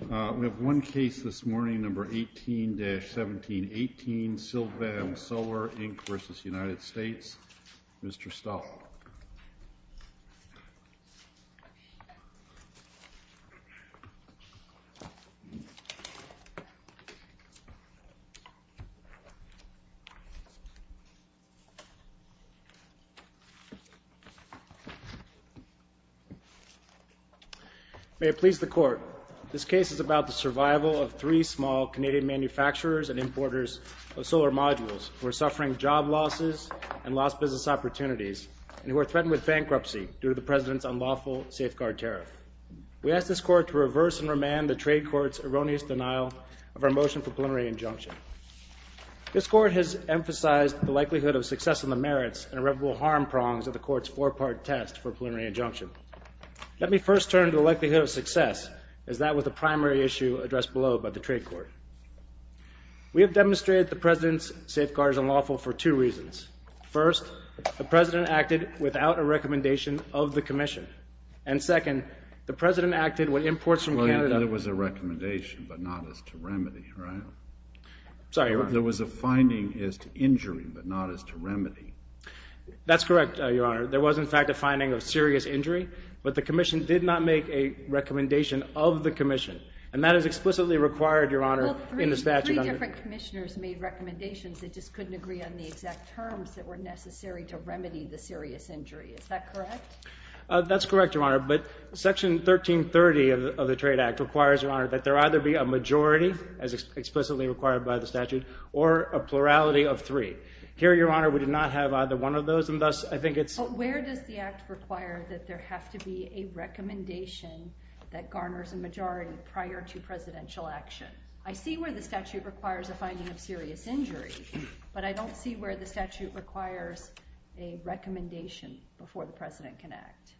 We have one case this morning, number 18-1718, Silfab Solar, Inc. v. United States. Mr. Stahl. May it please the Court. This case is about the survival of three small Canadian manufacturers and importers of solar modules who are suffering job losses and lost business opportunities. And who are threatened with bankruptcy due to the President's unlawful safeguard tariff. We ask this Court to reverse and remand the Trade Court's erroneous denial of our motion for a preliminary injunction. This Court has emphasized the likelihood of success in the merits and irreparable harm prongs of the Court's four-part test for a preliminary injunction. Let me first turn to the likelihood of success, as that was the primary issue addressed below by the Trade Court. We have demonstrated that the President's safeguard is unlawful for two reasons. First, the President acted without a recommendation of the Commission. And second, the President acted when imports from Canada... Well, there was a recommendation, but not as to remedy, right? Sorry. There was a finding as to injury, but not as to remedy. That's correct, Your Honor. There was, in fact, a finding of serious injury, but the Commission did not make a recommendation of the Commission. And that is explicitly required, Your Honor, in the statute under... Well, three different Commissioners made recommendations. They just couldn't agree on the exact terms that were necessary to remedy the serious injury. Is that correct? That's correct, Your Honor. But Section 1330 of the Trade Act requires, Your Honor, that there either be a majority, as explicitly required by the statute, or a plurality of three. Here, Your Honor, we do not have either one of those, and thus I think it's... But where does the Act require that there have to be a recommendation that garners a majority prior to Presidential action? I see where the statute requires a finding of serious injury, but I don't see where the statute requires a recommendation before the President can act.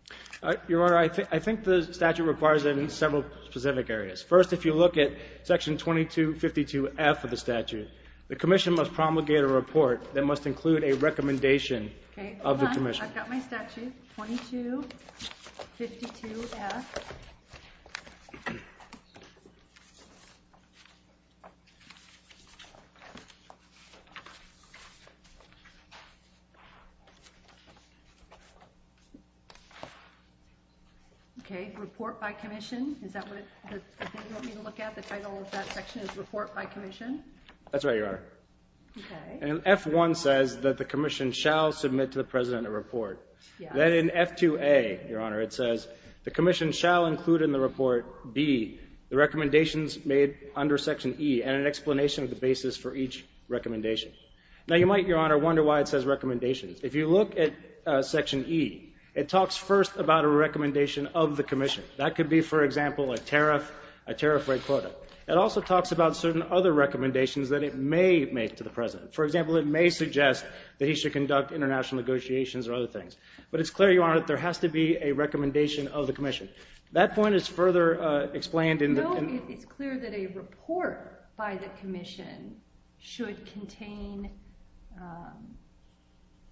Your Honor, I think the statute requires that in several specific areas. First, if you look at Section 2252F of the statute, the Commission must promulgate a report that must include a recommendation of the Commission. Okay, hold on. I've got my statute, 2252F. Okay, report by Commission, is that what you want me to look at? The title of that section is report by Commission? That's right, Your Honor. Okay. And F1 says that the Commission shall submit to the President a report. Then in F2A, Your Honor, it says the Commission shall include in the report, B, the recommendations made under Section E and an explanation of the basis for each recommendation. Now you might, Your Honor, wonder why it says recommendations. If you look at Section E, it talks first about a recommendation of the Commission. That could be, for example, a tariff rate quota. It also talks about certain other recommendations that it may make to the President. For example, it may suggest that he should conduct international negotiations or other things. But it's clear, Your Honor, that there has to be a recommendation of the Commission. That point is further explained in the... No, it's clear that a report by the Commission should contain,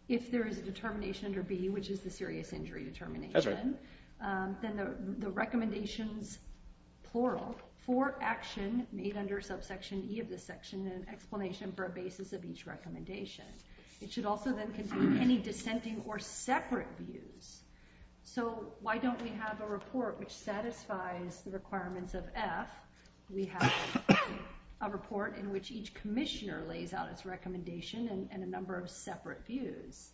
if there is a determination under B, which is the serious injury determination, then the recommendations, plural, for action made under subsection E of this section and explanation for a basis of each recommendation. It should also then contain any dissenting or separate views. So why don't we have a report which satisfies the requirements of F? We have a report in which each Commissioner lays out its recommendation and a number of separate views.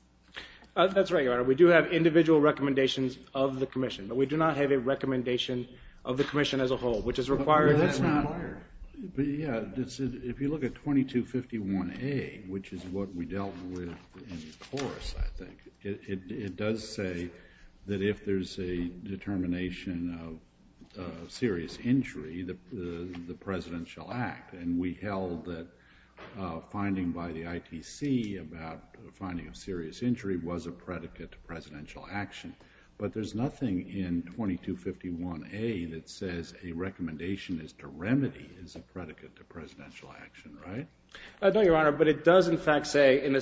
That's right, Your Honor. We do have individual recommendations of the Commission, but we do not have a recommendation of the Commission. If you look at 2251A, which is what we dealt with in the course, I think, it does say that if there's a determination of serious injury, the President shall act. And we held that finding by the ITC about finding of serious injury was a predicate to Presidential action. But there's nothing in 2251A that says a recommendation is to be a predicate to Presidential action, right? No, Your Honor, but it does, in fact, say in the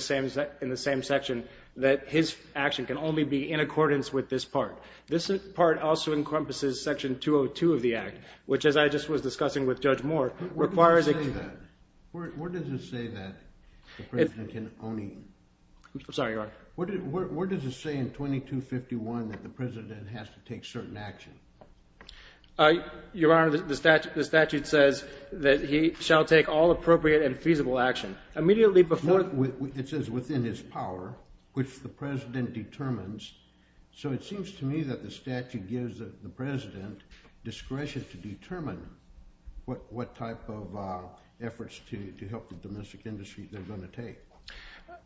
same section that his action can only be in accordance with this part. This part also encompasses section 202 of the Act, which, as I just was discussing with Judge Moore, requires that... Where does it say that the President can only... I'm sorry, Your Honor. Where does it say in 2251 that the President has to take certain action? Your Honor, the Statute says that he shall take all appropriate and feasible action. Immediately before... It says within his power, which the President determines. So it seems to me that the Statute gives the President discretion to determine what type of efforts to help the domestic industry they're going to take.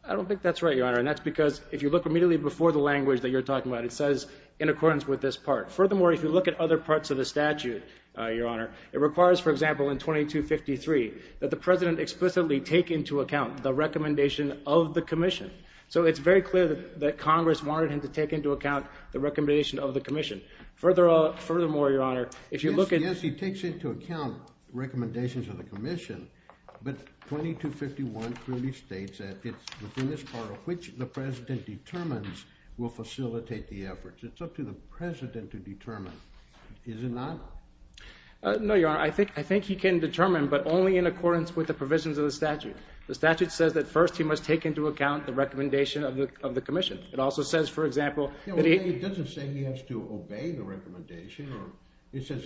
I don't think that's right, Your Honor, and that's because if you look immediately before the language that you're talking about, it says in accordance with this part. Furthermore, if you look at other parts of the Statute, Your Honor, it says in 2253 that the President explicitly take into account the recommendation of the Commission. So it's very clear that Congress wanted him to take into account the recommendation of the Commission. Furthermore, Your Honor, if you look at... Yes, he takes into account recommendations of the Commission, but 2251 clearly states that it's within his power, which the President determines, will facilitate the efforts. It's up to the President to determine. Is it not? No, Your Honor. I think he can determine, but only in accordance with the provisions of the Statute. The Statute says that first he must take into account the recommendation of the Commission. It also says, for example... It doesn't say he has to obey the recommendation. It says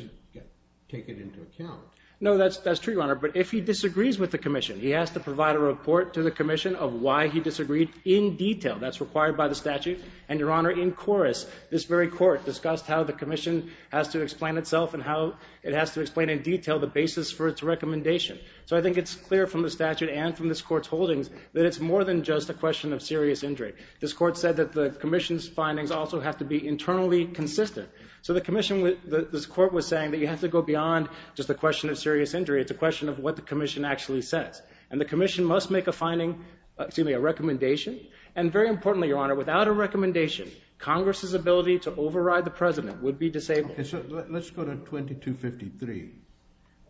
take it into account. No, that's true, Your Honor, but if he disagrees with the Commission, he has to provide a report to the Commission of why he disagreed in detail. That's required by the Statute, and Your Honor, in chorus, this very Court discussed how the Commission has to explain itself and how it has to explain in detail the basis for its recommendation. So I think it's clear from the Statute and from this Court's holdings that it's more than just a question of serious injury. This Court said that the Commission's findings also have to be internally consistent. So the Commission... This Court was saying that you have to go beyond just a question of serious injury. It's a question of what the Commission actually says. And the Commission must make a finding... Excuse me, a recommendation, and very importantly, Your Honor, without a recommendation, Congress's ability to override the President would be disabled. Okay, so let's go to 2253A1A,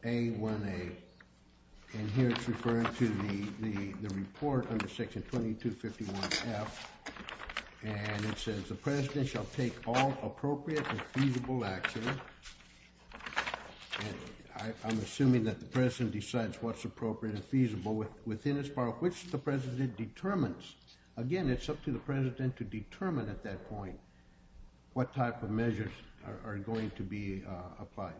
and here it's referring to the report under Section 2251F, and it says, the President shall take all appropriate and feasible action. I'm assuming that the President decides what's appropriate and feasible within as far as the President determines. Again, it's up to the President to determine at that point what type of measures are going to be applied.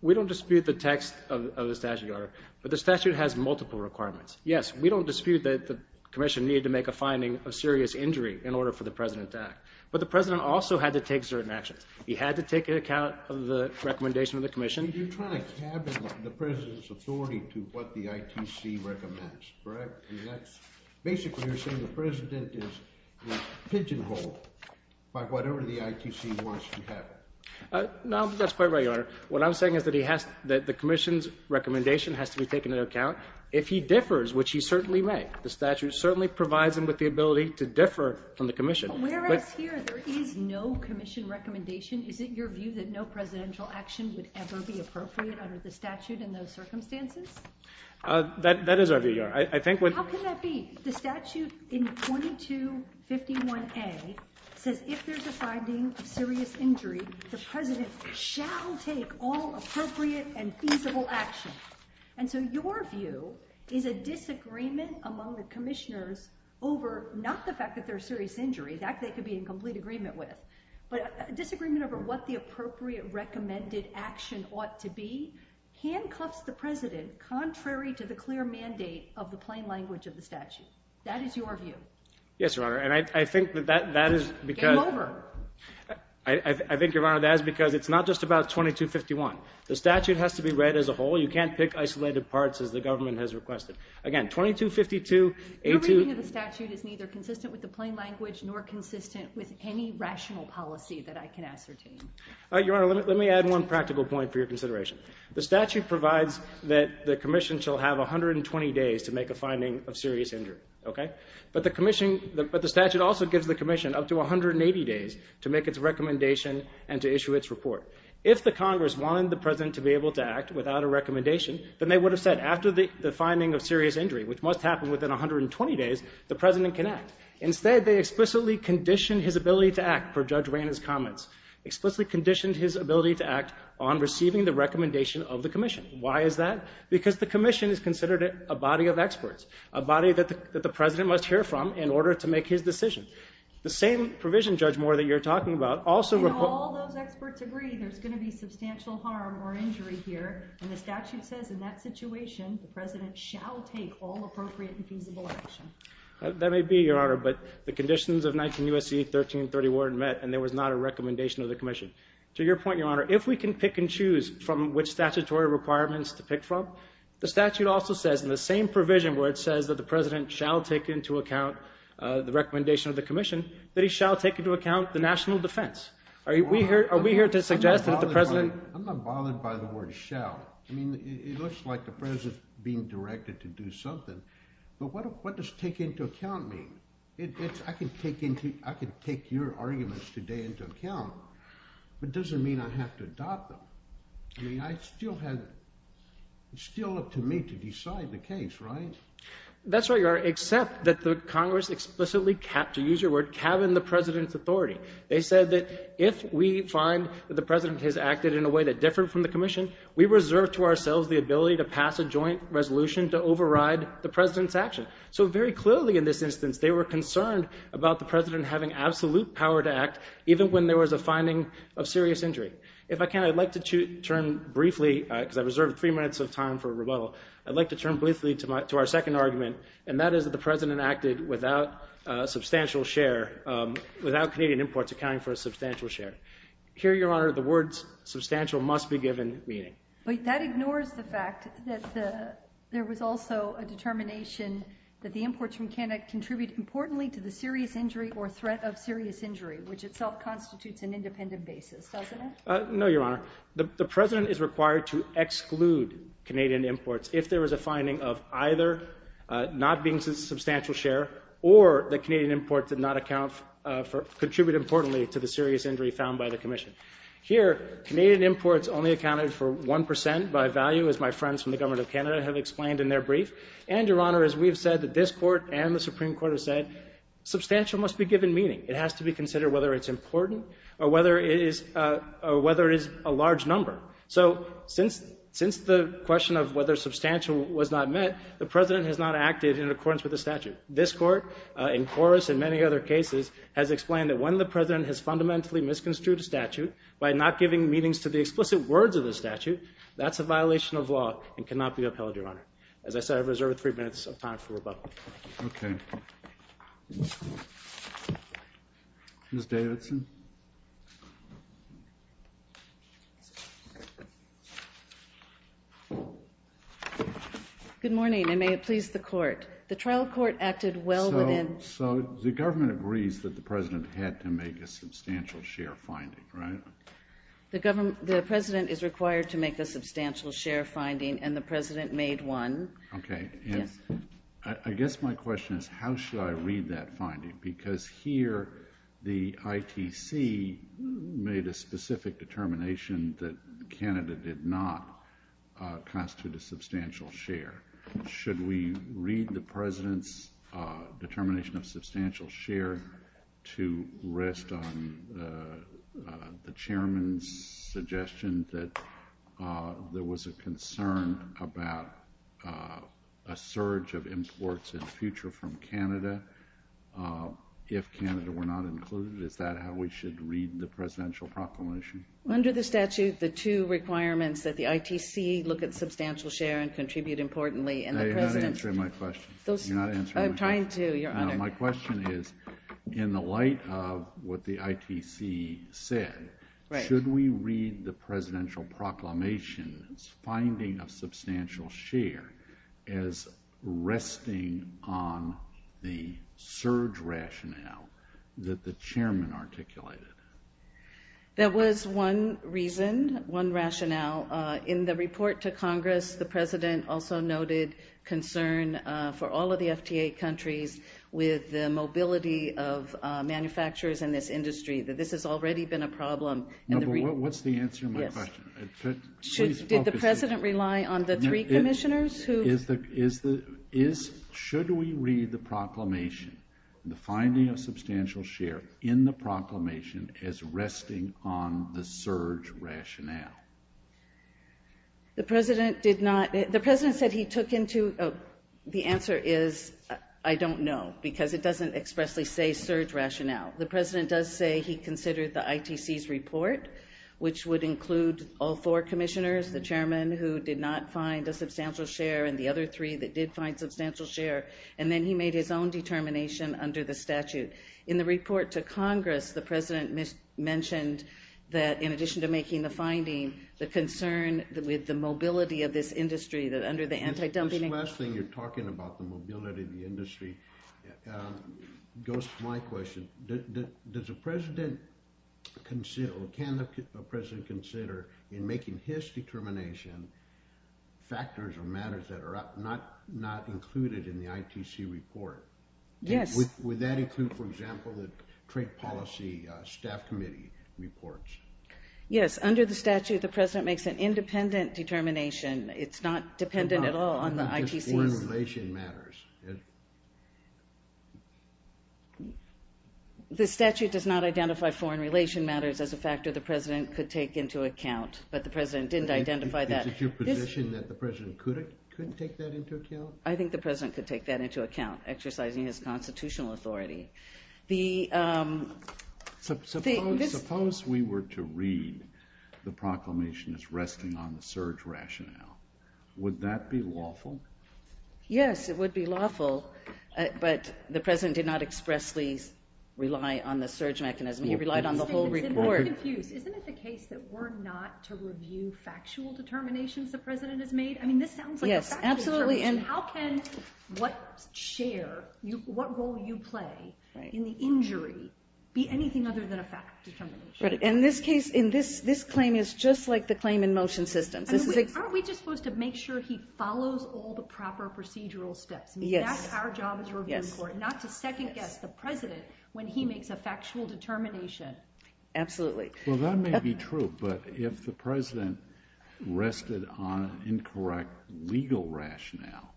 We don't dispute the text of the statute, Your Honor, but the statute has multiple requirements. Yes, we don't dispute that the Commission needed to make a finding of serious injury in order for the President to act, but the President also had to take certain actions. He had to take account of the recommendation of the Commission. You're trying to cabin the President's authority to what the ITC recommends, correct? Basically, you're saying the President is pigeonholed by whatever the ITC wants to happen. No, that's quite right, Your Honor. What I'm saying is that he has, that the Commission's recommendation has to be taken into account. If he differs, which he certainly may, the statute certainly provides him with the ability to differ from the Commission. Whereas here, there is no Commission recommendation, is it your view that no presidential action would ever be appropriate under the statute in those circumstances? That is our view, Your Honor. How can that be? The statute in 2251A says if there's a finding of serious injury, the President shall take all appropriate and feasible actions. And so your view is a disagreement among the Commissioners over not the fact that there's agreement with, but a disagreement over what the appropriate recommended action ought to be handcuffs the President contrary to the clear mandate of the plain language of the statute. That is your view. Yes, Your Honor, and I think that that is because... Game over. I think, Your Honor, that is because it's not just about 2251. The statute has to be read as a whole. You can't pick isolated parts as the government has requested. Again, 2252A... Your reading of the statute is neither consistent with the plain language nor consistent with any rational policy that I can ascertain. Your Honor, let me add one practical point for your consideration. The statute provides that the Commission shall have 120 days to make a finding of serious injury, okay? But the Commission, but the statute also gives the Commission up to 180 days to make its recommendation and to issue its report. If the Congress wanted the President to be able to act without a recommendation, then they would have said after the finding of serious injury, which must happen within 120 days, the President can act. Instead, they explicitly conditioned his ability to act, per Judge Reina's comments, explicitly conditioned his ability to act on receiving the recommendation of the Commission. Why is that? Because the Commission is considered a body of experts, a body that the President must hear from in order to make his decision. The same provision, Judge Moore, that you're talking about also... And all those experts agree there's going to be substantial harm or injury here, and the statute says in that situation the President shall take all appropriate and that may be, Your Honor, but the conditions of 19 U.S.C. 1331 met, and there was not a recommendation of the Commission. To your point, Your Honor, if we can pick and choose from which statutory requirements to pick from, the statute also says in the same provision where it says that the President shall take into account the recommendation of the Commission, that he shall take into account the national defense. Are we here to suggest that the President... I'm not bothered by the word shall. I mean, it looks like the President's being directed to do something, but what does take into account mean? I can take your arguments today into account, but it doesn't mean I have to adopt them. I mean, it's still up to me to decide the case, right? That's right, Your Honor, except that the Congress explicitly, to use your word, cabined the President's authority. They said that if we find that the President has acted in a way that's different from the Commission, we reserve to ourselves the ability to pass a President's action. So very clearly in this instance, they were concerned about the President having absolute power to act, even when there was a finding of serious injury. If I can, I'd like to turn briefly, because I reserved three minutes of time for rebuttal, I'd like to turn briefly to our second argument, and that is that the President acted without a substantial share, without Canadian imports accounting for a substantial share. Here, Your Honor, the words that the President is required to exclude Canadian imports if there was a finding of either not being a substantial share or that Canadian imports did not account for, contribute importantly to the serious injury found by the Commission. Here, Canadian imports only accounted for one And, Your Honor, as we've said, this Court and the Supreme Court have said, substantial must be given meaning. It has to be considered whether it's important or whether it is a large number. So since the question of whether substantial was not met, the President has not acted in accordance with the statute. This Court, in chorus in many other cases, has explained that when the President has fundamentally misconstrued a statute by not giving meanings to the explicit words of the statute, that's a violation of law and cannot be upheld, Your Honor. As I said, I reserve three minutes of time for rebuttal. Okay. Ms. Davidson? Good morning, and may it please the Court. The trial court acted well within So, the Government agrees that the President had to make a substantial share finding, right? The Government, the President is required to make a substantial share finding, and the President made one. Okay. I guess my question is, how should I read that finding? Because here, the ITC made a specific determination that Canada did not constitute a substantial share. Should we read the President's determination of substantial share to rest on the Chairman's recommendation that there was a concern about a surge of imports in the future from Canada if Canada were not included? Is that how we should read the Presidential proclamation? Under the statute, the two requirements that the ITC look at substantial share and contribute importantly, and the President's... No, you're not answering my question. Those... You're not answering my question. I'm trying to, Your Honor. My question is, in the light of what the ITC said, should we read the Presidential proclamation's finding of substantial share as resting on the surge rationale that the Chairman articulated? There was one reason, one rationale. In the report to Congress, the President also noted concern for all of the FTA countries with the mobility of manufacturers in this industry, that this has already been a problem. No, but what's the answer to my question? Did the President rely on the three commissioners who... Should we read the proclamation, the finding of substantial share, in the proclamation as resting on the surge rationale? The President did not... The President said he took into... The answer is, I don't know, because it doesn't expressly say surge rationale. The President does say he considered the ITC's report, which would include all four commissioners, the Chairman, who did not find a substantial share, and the other three that did find substantial share, and then he made his own determination under the statute. In the report to Congress, the President mentioned that, in addition to making the finding, the concern with the mobility of this industry, that under the anti-dumping... This last thing you're talking about, the mobility of the industry, it goes to my question. Does the President consider... Can the President consider, in making his determination, factors or matters that are not included in the ITC report? Yes. Would that include, for example, the Trade Policy Staff Committee reports? Yes, under the statute, the President makes an independent determination. It's not dependent at all on the ITC's... The statute does not identify foreign relation matters as a factor the President could take into account, but the President didn't identify that. Is it your position that the President could take that into account? I think the President could take that into account, exercising his constitutional authority. Suppose we were to read the proclamation as resting on the surge rationale. Would that be lawful? Yes, it would be lawful. But the President did not expressly rely on the surge mechanism. He relied on the whole report. I'm confused. Isn't it the case that we're not to review factual determinations the President has made? I mean, this sounds like a factual determination. How can what share, what role you play in the injury be anything other than a factual determination? In this case, this claim is just like the claim in motion systems. Aren't we just supposed to make sure he follows all the proper procedural steps? That's our job as a review court, not to second guess the President when he makes a factual determination. Absolutely. Well, that may be true, but if the President rested on incorrect legal rationale,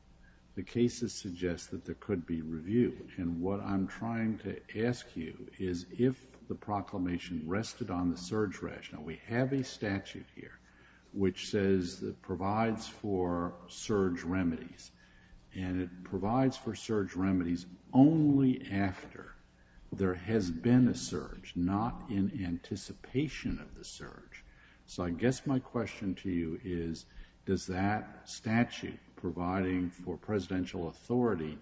the cases suggest that there could be review. And what I'm trying to ask you is, if the proclamation rested on the surge rationale, we have a statute here which says that provides for surge remedies and it provides for surge remedies only after there has been a surge, not in anticipation of the surge. So I guess my question to you is, does that statute providing for presidential authority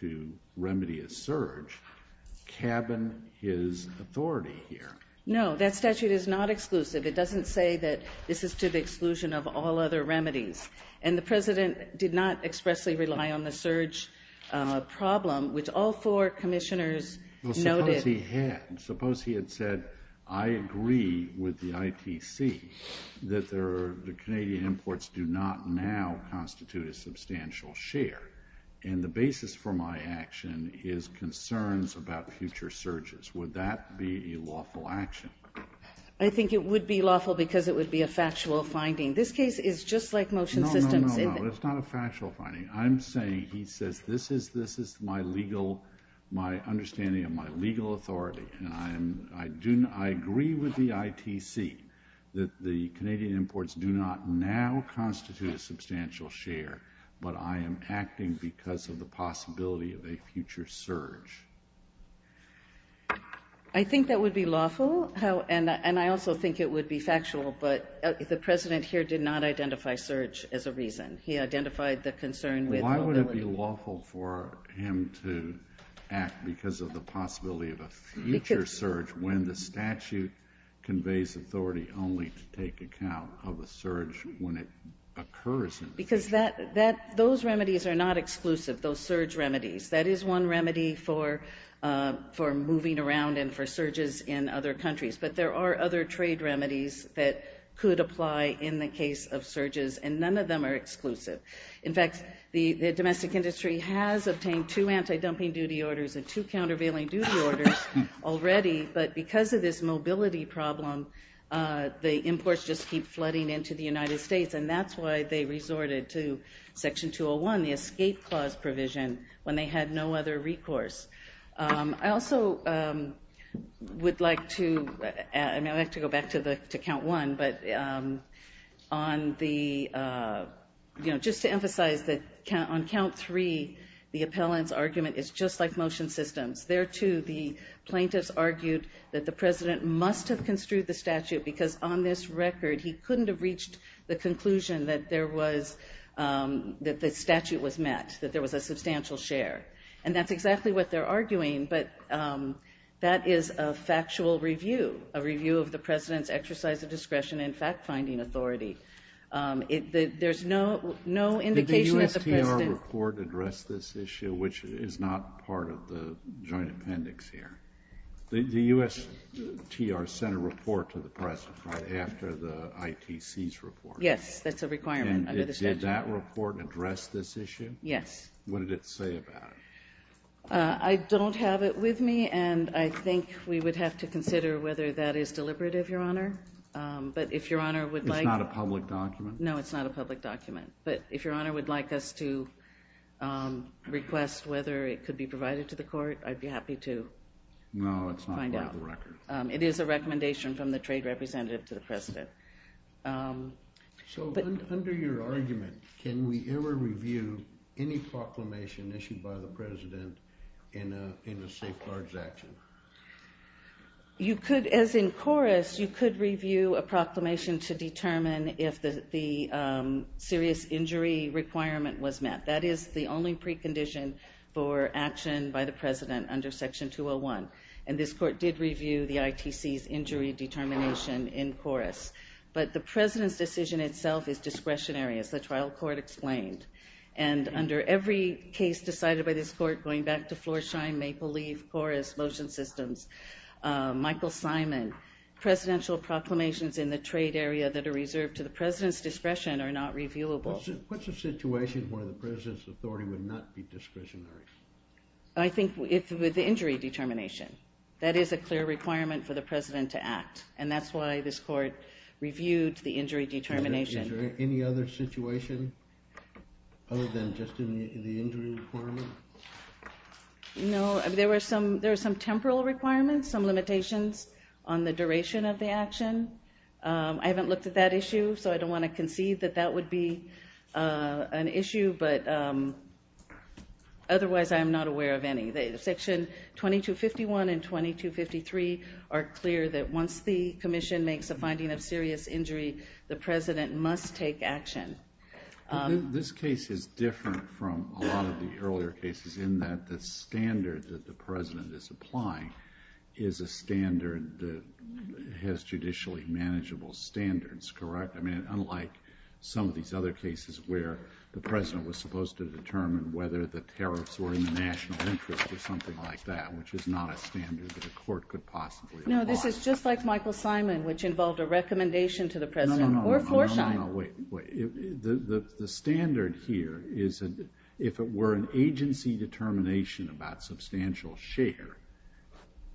to remedy a surge cabin his authority here? No, that statute is not exclusive. It doesn't say that this is to the exclusion of all other remedies. And the President did not expressly rely on the surge problem, which all four commissioners noted. Well, suppose he had. Suppose he had said, I agree with the ITC that the Canadian imports do not now constitute a substantial share. And the basis for my action is concerns about future surges. Would that be a lawful action? I think it would be lawful because it would be a factual finding. This case is just like motion systems. No, no, no. It's not a factual finding. I'm saying, he says, this is my legal, my understanding of my legal authority. And I agree with the ITC that the Canadian imports do not now constitute a substantial share, but I am acting because of the possibility of a future surge. But the President here did not identify surge as a reason. He identified the concern with mobility. Why would it be lawful for him to act because of the possibility of a future surge when the statute conveys authority only to take account of a surge when it occurs? Because those remedies are not exclusive, those surge remedies. That is one remedy for moving around and for surges in other countries. But there are other trade remedies that could apply in the case of surges, and none of them are exclusive. In fact, the domestic industry has obtained two anti-dumping duty orders and two countervailing duty orders already. But because of this mobility problem, the imports just keep flooding into the United States. And that's why they resorted to Section 201, the escape clause provision, when they had no other recourse. I also would like to go back to count one. But just to emphasize that on count three, the appellant's argument is just like motion systems. There too, the plaintiffs argued that the President must have construed the statute because on this record, he couldn't have reached the conclusion that the statute was met, that there was a substantial share. And that's exactly what they're arguing. But that is a factual review, a review of the President's exercise of discretion and fact-finding authority. There's no indication that the President- Did the USTR report address this issue, which is not part of the joint appendix here? The USTR sent a report to the press right after the ITC's report. Yes, that's a requirement under the statute. Did that report address this issue? Yes. What did it say about it? I don't have it with me. And I think we would have to consider whether that is deliberative, Your Honor. But if Your Honor would like- It's not a public document? No, it's not a public document. But if Your Honor would like us to request whether it could be provided to the court, I'd be happy to find out. No, it's not part of the record. It is a recommendation from the trade representative to the President. So, under your argument, can we ever review any proclamation issued by the President in a safeguards action? You could, as in KORUS, you could review a proclamation to determine if the serious injury requirement was met. That is the only precondition for action by the President under Section 201. And this court did review the ITC's injury determination in KORUS. But the President's decision itself is discretionary, as the trial court explained. And under every case decided by this court, going back to Florsheim, Maple Leaf, KORUS, motion systems, Michael Simon, presidential proclamations in the trade area that are reserved to the President's discretion are not reviewable. What's a situation where the President's authority would not be discretionary? I think with the injury determination. That is a clear requirement for the President to act. And that's why this court reviewed the injury determination. Is there any other situation other than just in the injury requirement? No, there were some temporal requirements, some limitations on the duration of the action. I haven't looked at that issue, so I don't want to concede that that would be an issue. But otherwise, I'm not aware of any. Section 2251 and 2253 are clear that once the Commission makes a finding of serious injury, the President must take action. This case is different from a lot of the earlier cases in that the standard that the President is applying is a standard that has judicially manageable standards, correct? I mean, unlike some of these other cases where the President was supposed to determine whether the tariffs were in the national interest or something like that, which is not a standard that a court could possibly apply. No, this is just like Michael Simon, which involved a recommendation to the President. No, no, no, wait, wait. The standard here is that if it were an agency determination about substantial share,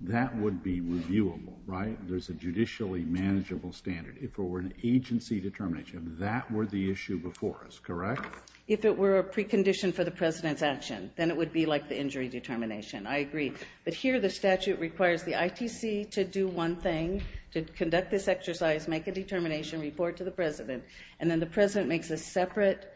that would be reviewable, right? There's a judicially manageable standard. If it were an agency determination, that were the issue before us, correct? If it were a precondition for the President's action, then it would be like the injury determination. I agree. But here, the statute requires the ITC to do one thing, to conduct this exercise, make a determination, report to the President. And then the President makes a separate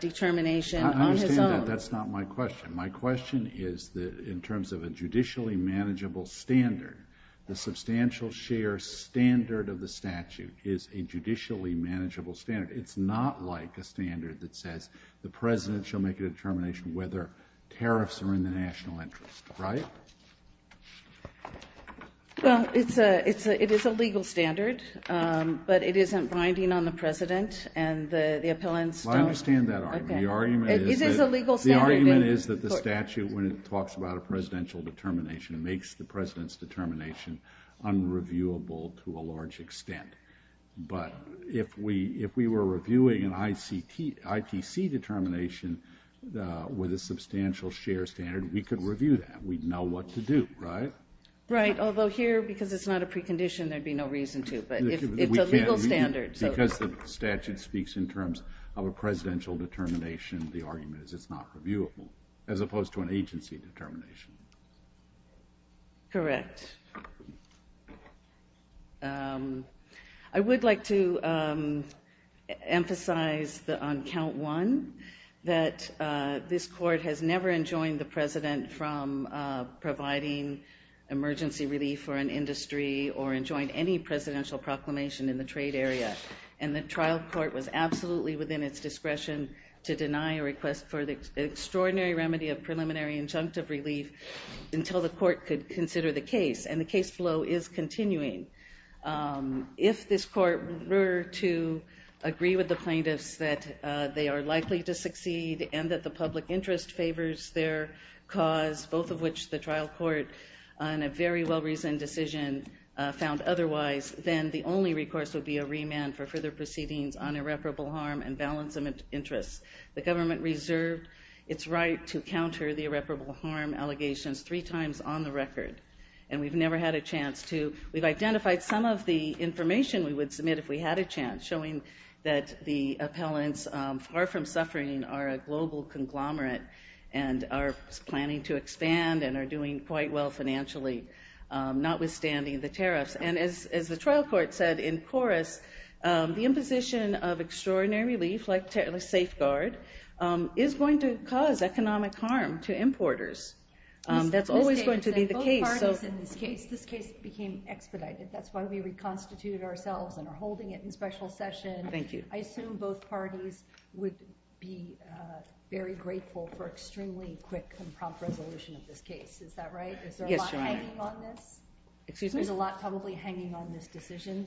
determination on his own. I understand that. That's not my question. My question is that in terms of a judicially manageable standard, the substantial share standard of the statute is a judicially manageable standard. It's not like a standard that says the President shall make a determination whether tariffs are in the national interest, right? Well, it is a legal standard, but it isn't binding on the President and the appellants. Well, I understand that argument. The argument is that the statute, when it talks about a presidential determination, makes the President's determination unreviewable to a large extent. But if we were reviewing an ITC determination with a substantial share standard, we could review that. We'd know what to do, right? Right. Although here, because it's not a precondition, there'd be no reason to. But it's a legal standard. Because the statute speaks in terms of a presidential determination, the argument is it's not reviewable, as opposed to an agency determination. Correct. I would like to emphasize on count one that this Court has never enjoined the President from providing emergency relief for an industry or enjoined any presidential proclamation in the trade area. And the trial court was absolutely within its discretion to deny a request for the extraordinary remedy of preliminary injunctive relief until the Court could consider the case. And the case flow is continuing. If this Court were to agree with the plaintiffs that they are likely to succeed and that the public interest favors their cause, both of which the trial court, in a very well-reasoned decision, found otherwise, then the only recourse would be a remand for further proceedings on irreparable harm and balance of interests. The government reserved its right to counter the irreparable harm allegations three times on the record. And we've never had a chance to. We've identified some of the information we would submit if we had a chance, showing that the appellants, far from suffering, are a global conglomerate and are planning to expand and are doing quite well financially, notwithstanding the tariffs. And as the trial court said in chorus, the imposition of extraordinary relief, like the safeguard, is going to cause economic harm to importers. That's always going to be the case. So in this case, this case became expedited. That's why we reconstituted ourselves and are holding it in special session. Thank you. I assume both parties would be very grateful for extremely quick and prompt resolution of this case. Is that right? Is there a lot hanging on this? Excuse me? There's a lot probably hanging on this decision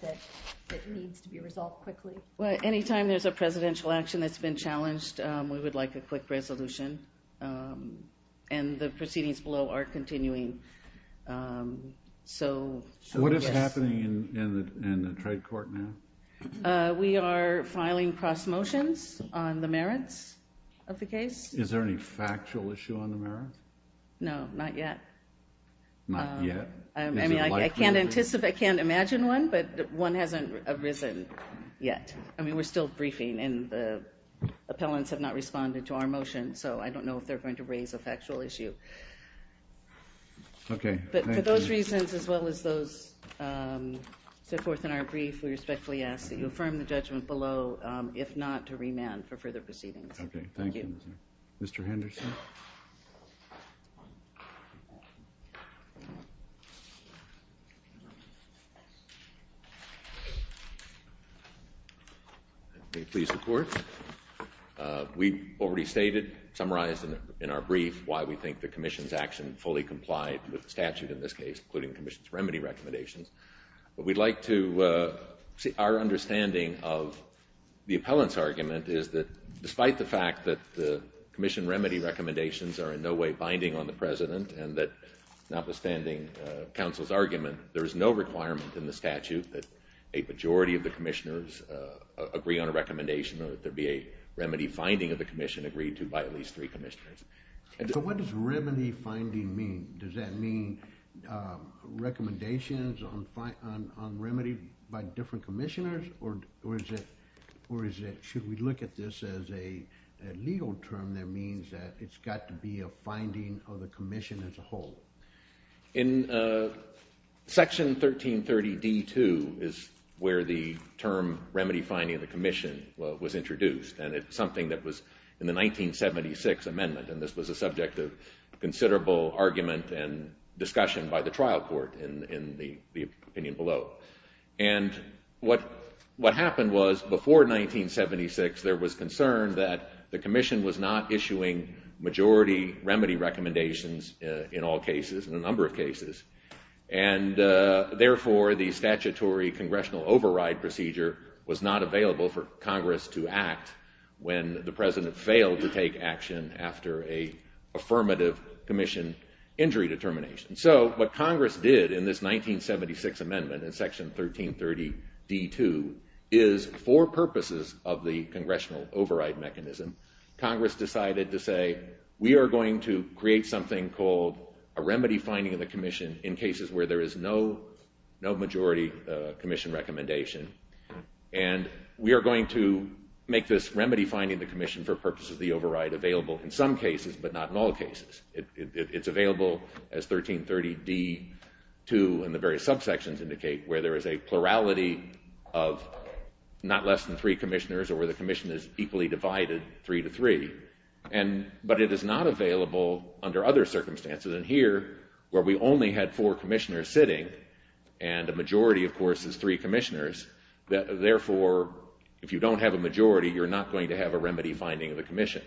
that needs to be resolved quickly. Well, anytime there's a presidential action that's been challenged, we would like a quick resolution. And the proceedings below are continuing. So what is happening in the trade court now? We are filing cross motions on the merits of the case. Is there any factual issue on the merits? No, not yet. Not yet? I can't imagine one, but one hasn't arisen yet. I mean, we're still briefing, and the appellants have not responded to our motion. I don't know if they're going to raise a factual issue. OK. But for those reasons, as well as those set forth in our brief, we respectfully ask that you affirm the judgment below, if not, to remand for further proceedings. OK. Thank you. Mr. Henderson? May it please the court. We've already stated, summarized in our brief, why we think the commission's action fully complied with the statute in this case, including the commission's remedy recommendations. But we'd like to see our understanding of the appellant's argument is that despite the fact that the commission remedy recommendations are in no way binding on the president, and that notwithstanding counsel's argument, there is no requirement in the statute that a majority of the commissioners agree on a recommendation that there be a remedy finding of the commission agreed to by at least three commissioners. So what does remedy finding mean? Does that mean recommendations on remedy by different commissioners, or should we look at this as a legal term that means that it's got to be a finding of the commission as a whole? In section 1330 D2 is where the term remedy finding of the commission was introduced. And it's something that was in the 1976 amendment. And this was a subject of considerable argument and discussion by the trial court in the opinion below. And what happened was, before 1976, there was concern that the commission was not issuing majority remedy recommendations in all cases, in a number of cases. And therefore, the statutory congressional override procedure was not available for Congress to act when the president failed to take action after a affirmative commission injury determination. So what Congress did in this 1976 amendment in section 1330 D2 is, for purposes of the we are going to create something called a remedy finding of the commission in cases where there is no majority commission recommendation. And we are going to make this remedy finding of the commission for purposes of the override available in some cases, but not in all cases. It's available as 1330 D2, and the various subsections indicate, where there is a plurality of not less than three commissioners, or where the commission is equally divided three to three. But it is not available under other circumstances. And here, where we only had four commissioners sitting, and a majority, of course, is three commissioners, therefore, if you don't have a majority, you're not going to have a remedy finding of the commission.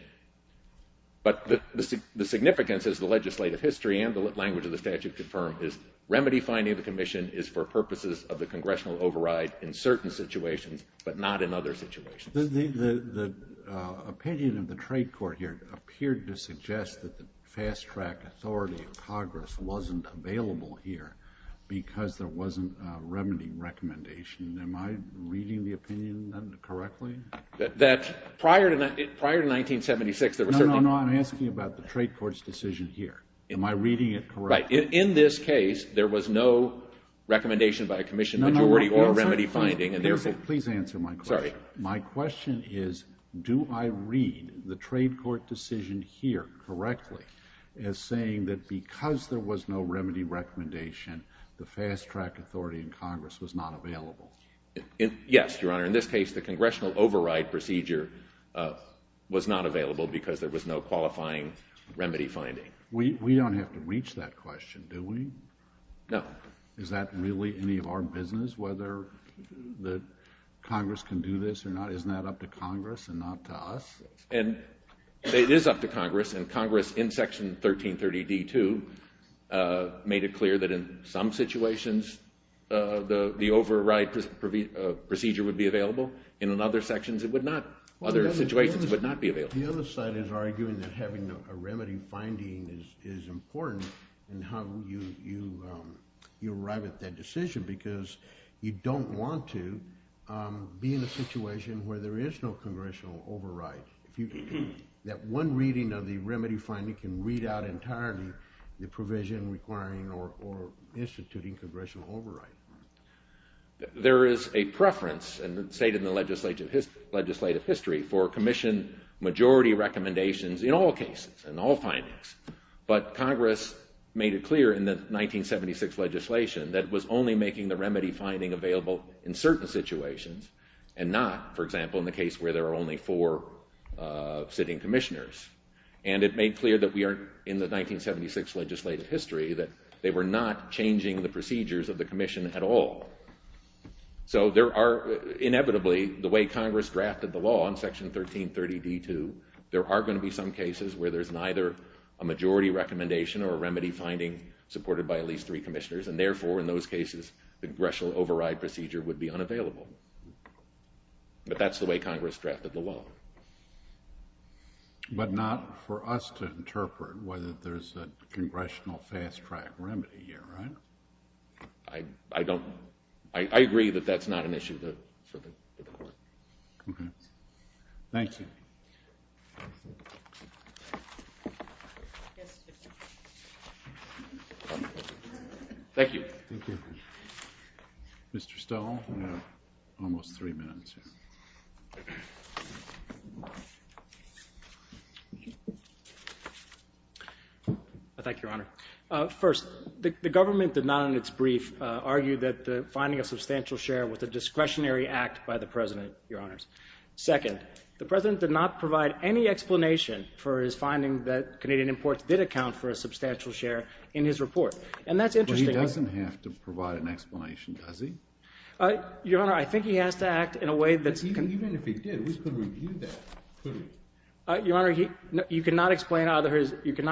But the significance, as the legislative history and the language of the statute confirm, is remedy finding of the commission is for purposes of the congressional override in certain situations, but not in other situations. The opinion of the trade court here appeared to suggest that the fast-track authority of Congress wasn't available here because there wasn't a remedy recommendation. Am I reading the opinion correctly? Prior to 1976, there were certain No, no, no. I'm asking about the trade court's decision here. Am I reading it correctly? Right. In this case, there was no recommendation by a commission majority or remedy finding, and therefore Please answer my question. Sorry. My question is, do I read the trade court decision here correctly as saying that because there was no remedy recommendation, the fast-track authority in Congress was not available? Yes, Your Honor. In this case, the congressional override procedure was not available because there was no qualifying remedy finding. We don't have to reach that question, do we? No. Is that really any of our business, whether the Congress can do this or not? Isn't that up to Congress and not to us? And it is up to Congress. And Congress, in Section 1330d-2, made it clear that in some situations, the override procedure would be available. And in other sections, it would not. Other situations would not be available. The other side is arguing that having a remedy finding is important in how you arrive at that decision, because you don't want to be in a situation where there is no congressional override. That one reading of the remedy finding can read out entirely the provision requiring or instituting congressional override. There is a preference in the legislative history for commission majority recommendations in all cases, in all findings. But Congress made it clear in the 1976 legislation that it was only making the remedy finding available in certain situations and not, for example, in the case where there are only four sitting commissioners. And it made clear that we are in the 1976 legislative history that they were not changing the procedures of the commission at all. So there are, inevitably, the way Congress drafted the law in Section 1330d-2, there are going to be some cases where there's neither a majority recommendation or a remedy finding supported by at least three commissioners. And therefore, in those cases, the congressional override procedure would be unavailable. But that's the way Congress drafted the law. But not for us to interpret whether there's a congressional fast-track remedy here, right? I don't. I agree that that's not an issue for the court. OK. Thank you. Yes. Thank you. Thank you. Mr. Stoll, you have almost three minutes. I thank Your Honor. First, the government did not, in its brief, argue that finding a substantial share was a discretionary act by the President, Your Honors. Second, the President did not provide any explanation for his finding that Canadian imports did account for a substantial share in his report. And that's interesting. But he doesn't have to provide an explanation, does he? Your Honor, I think he has to act in a way that's... Even if he did, we could review that, couldn't we? Your Honor, you cannot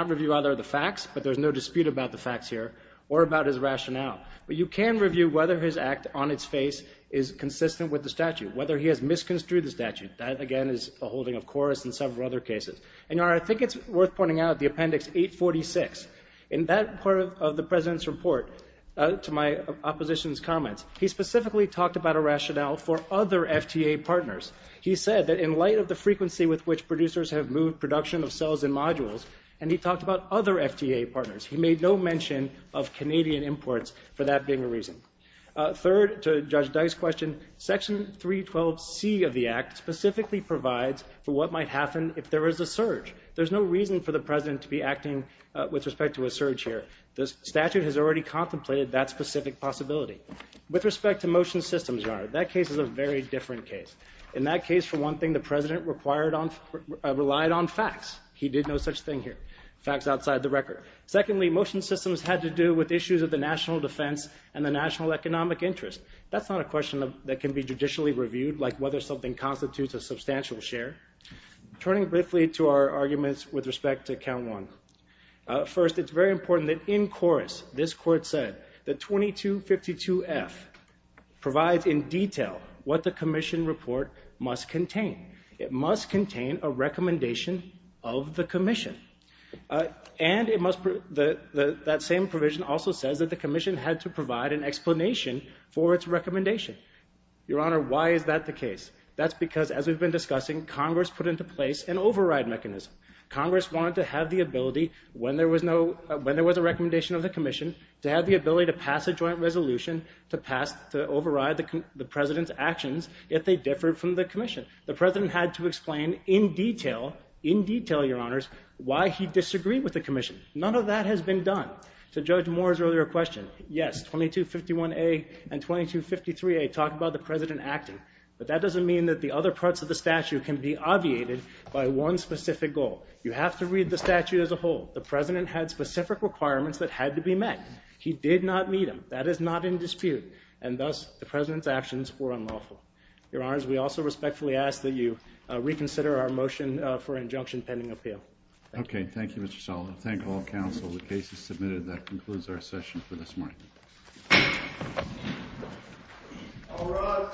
review either of the facts, but there's no dispute about the facts here or about his rationale. But you can review whether his act on its face is consistent with the statute, whether he has misconstrued the statute. That, again, is a holding of chorus in several other cases. And Your Honor, I think it's worth pointing out the Appendix 846. In that part of the President's report, to my opposition's comments, he specifically talked about a rationale for other FTA partners. He said that in light of the frequency with which producers have moved production of cells and modules, and he talked about other FTA partners, he made no mention of Canadian imports for that being a reason. Third, to Judge Dice's question, Section 312C of the Act specifically provides for what might happen if there is a surge. There's no reason for the President to be acting with respect to a surge here. The statute has already contemplated that specific possibility. With respect to motion systems, Your Honor, that case is a very different case. In that case, for one thing, the President relied on facts. He did no such thing here. Facts outside the record. Secondly, motion systems had to do with issues of the national defense and the national economic interest. That's not a question that can be judicially reviewed, like whether something constitutes a substantial share. Turning briefly to our arguments with respect to Count 1, first, it's very important that in chorus, this Court said that 2252F provides in detail what the Commission report must contain. It must contain a recommendation of the Commission. And that same provision also says that the Commission had to provide an explanation for its recommendation. Your Honor, why is that the case? That's because, as we've been discussing, Congress put into place an override mechanism. Congress wanted to have the ability, when there was a recommendation of the Commission, to have the ability to pass a joint resolution to override the President's actions if they differed from the Commission. The President had to explain in detail, in detail, Your Honors, why he disagreed with the Commission. None of that has been done. To Judge Moore's earlier question, yes, 2251A and 2253A talk about the President acting. But that doesn't mean that the other parts of the statute can be obviated by one specific goal. You have to read the statute as a whole. The President had specific requirements that had to be met. He did not meet them. That is not in dispute. And thus, the President's actions were unlawful. Your Honors, we also respectfully ask that you reconsider our motion for injunction pending appeal. Okay. Thank you, Mr. Sullivan. Thank all counsel. The case is submitted. That concludes our session for this morning.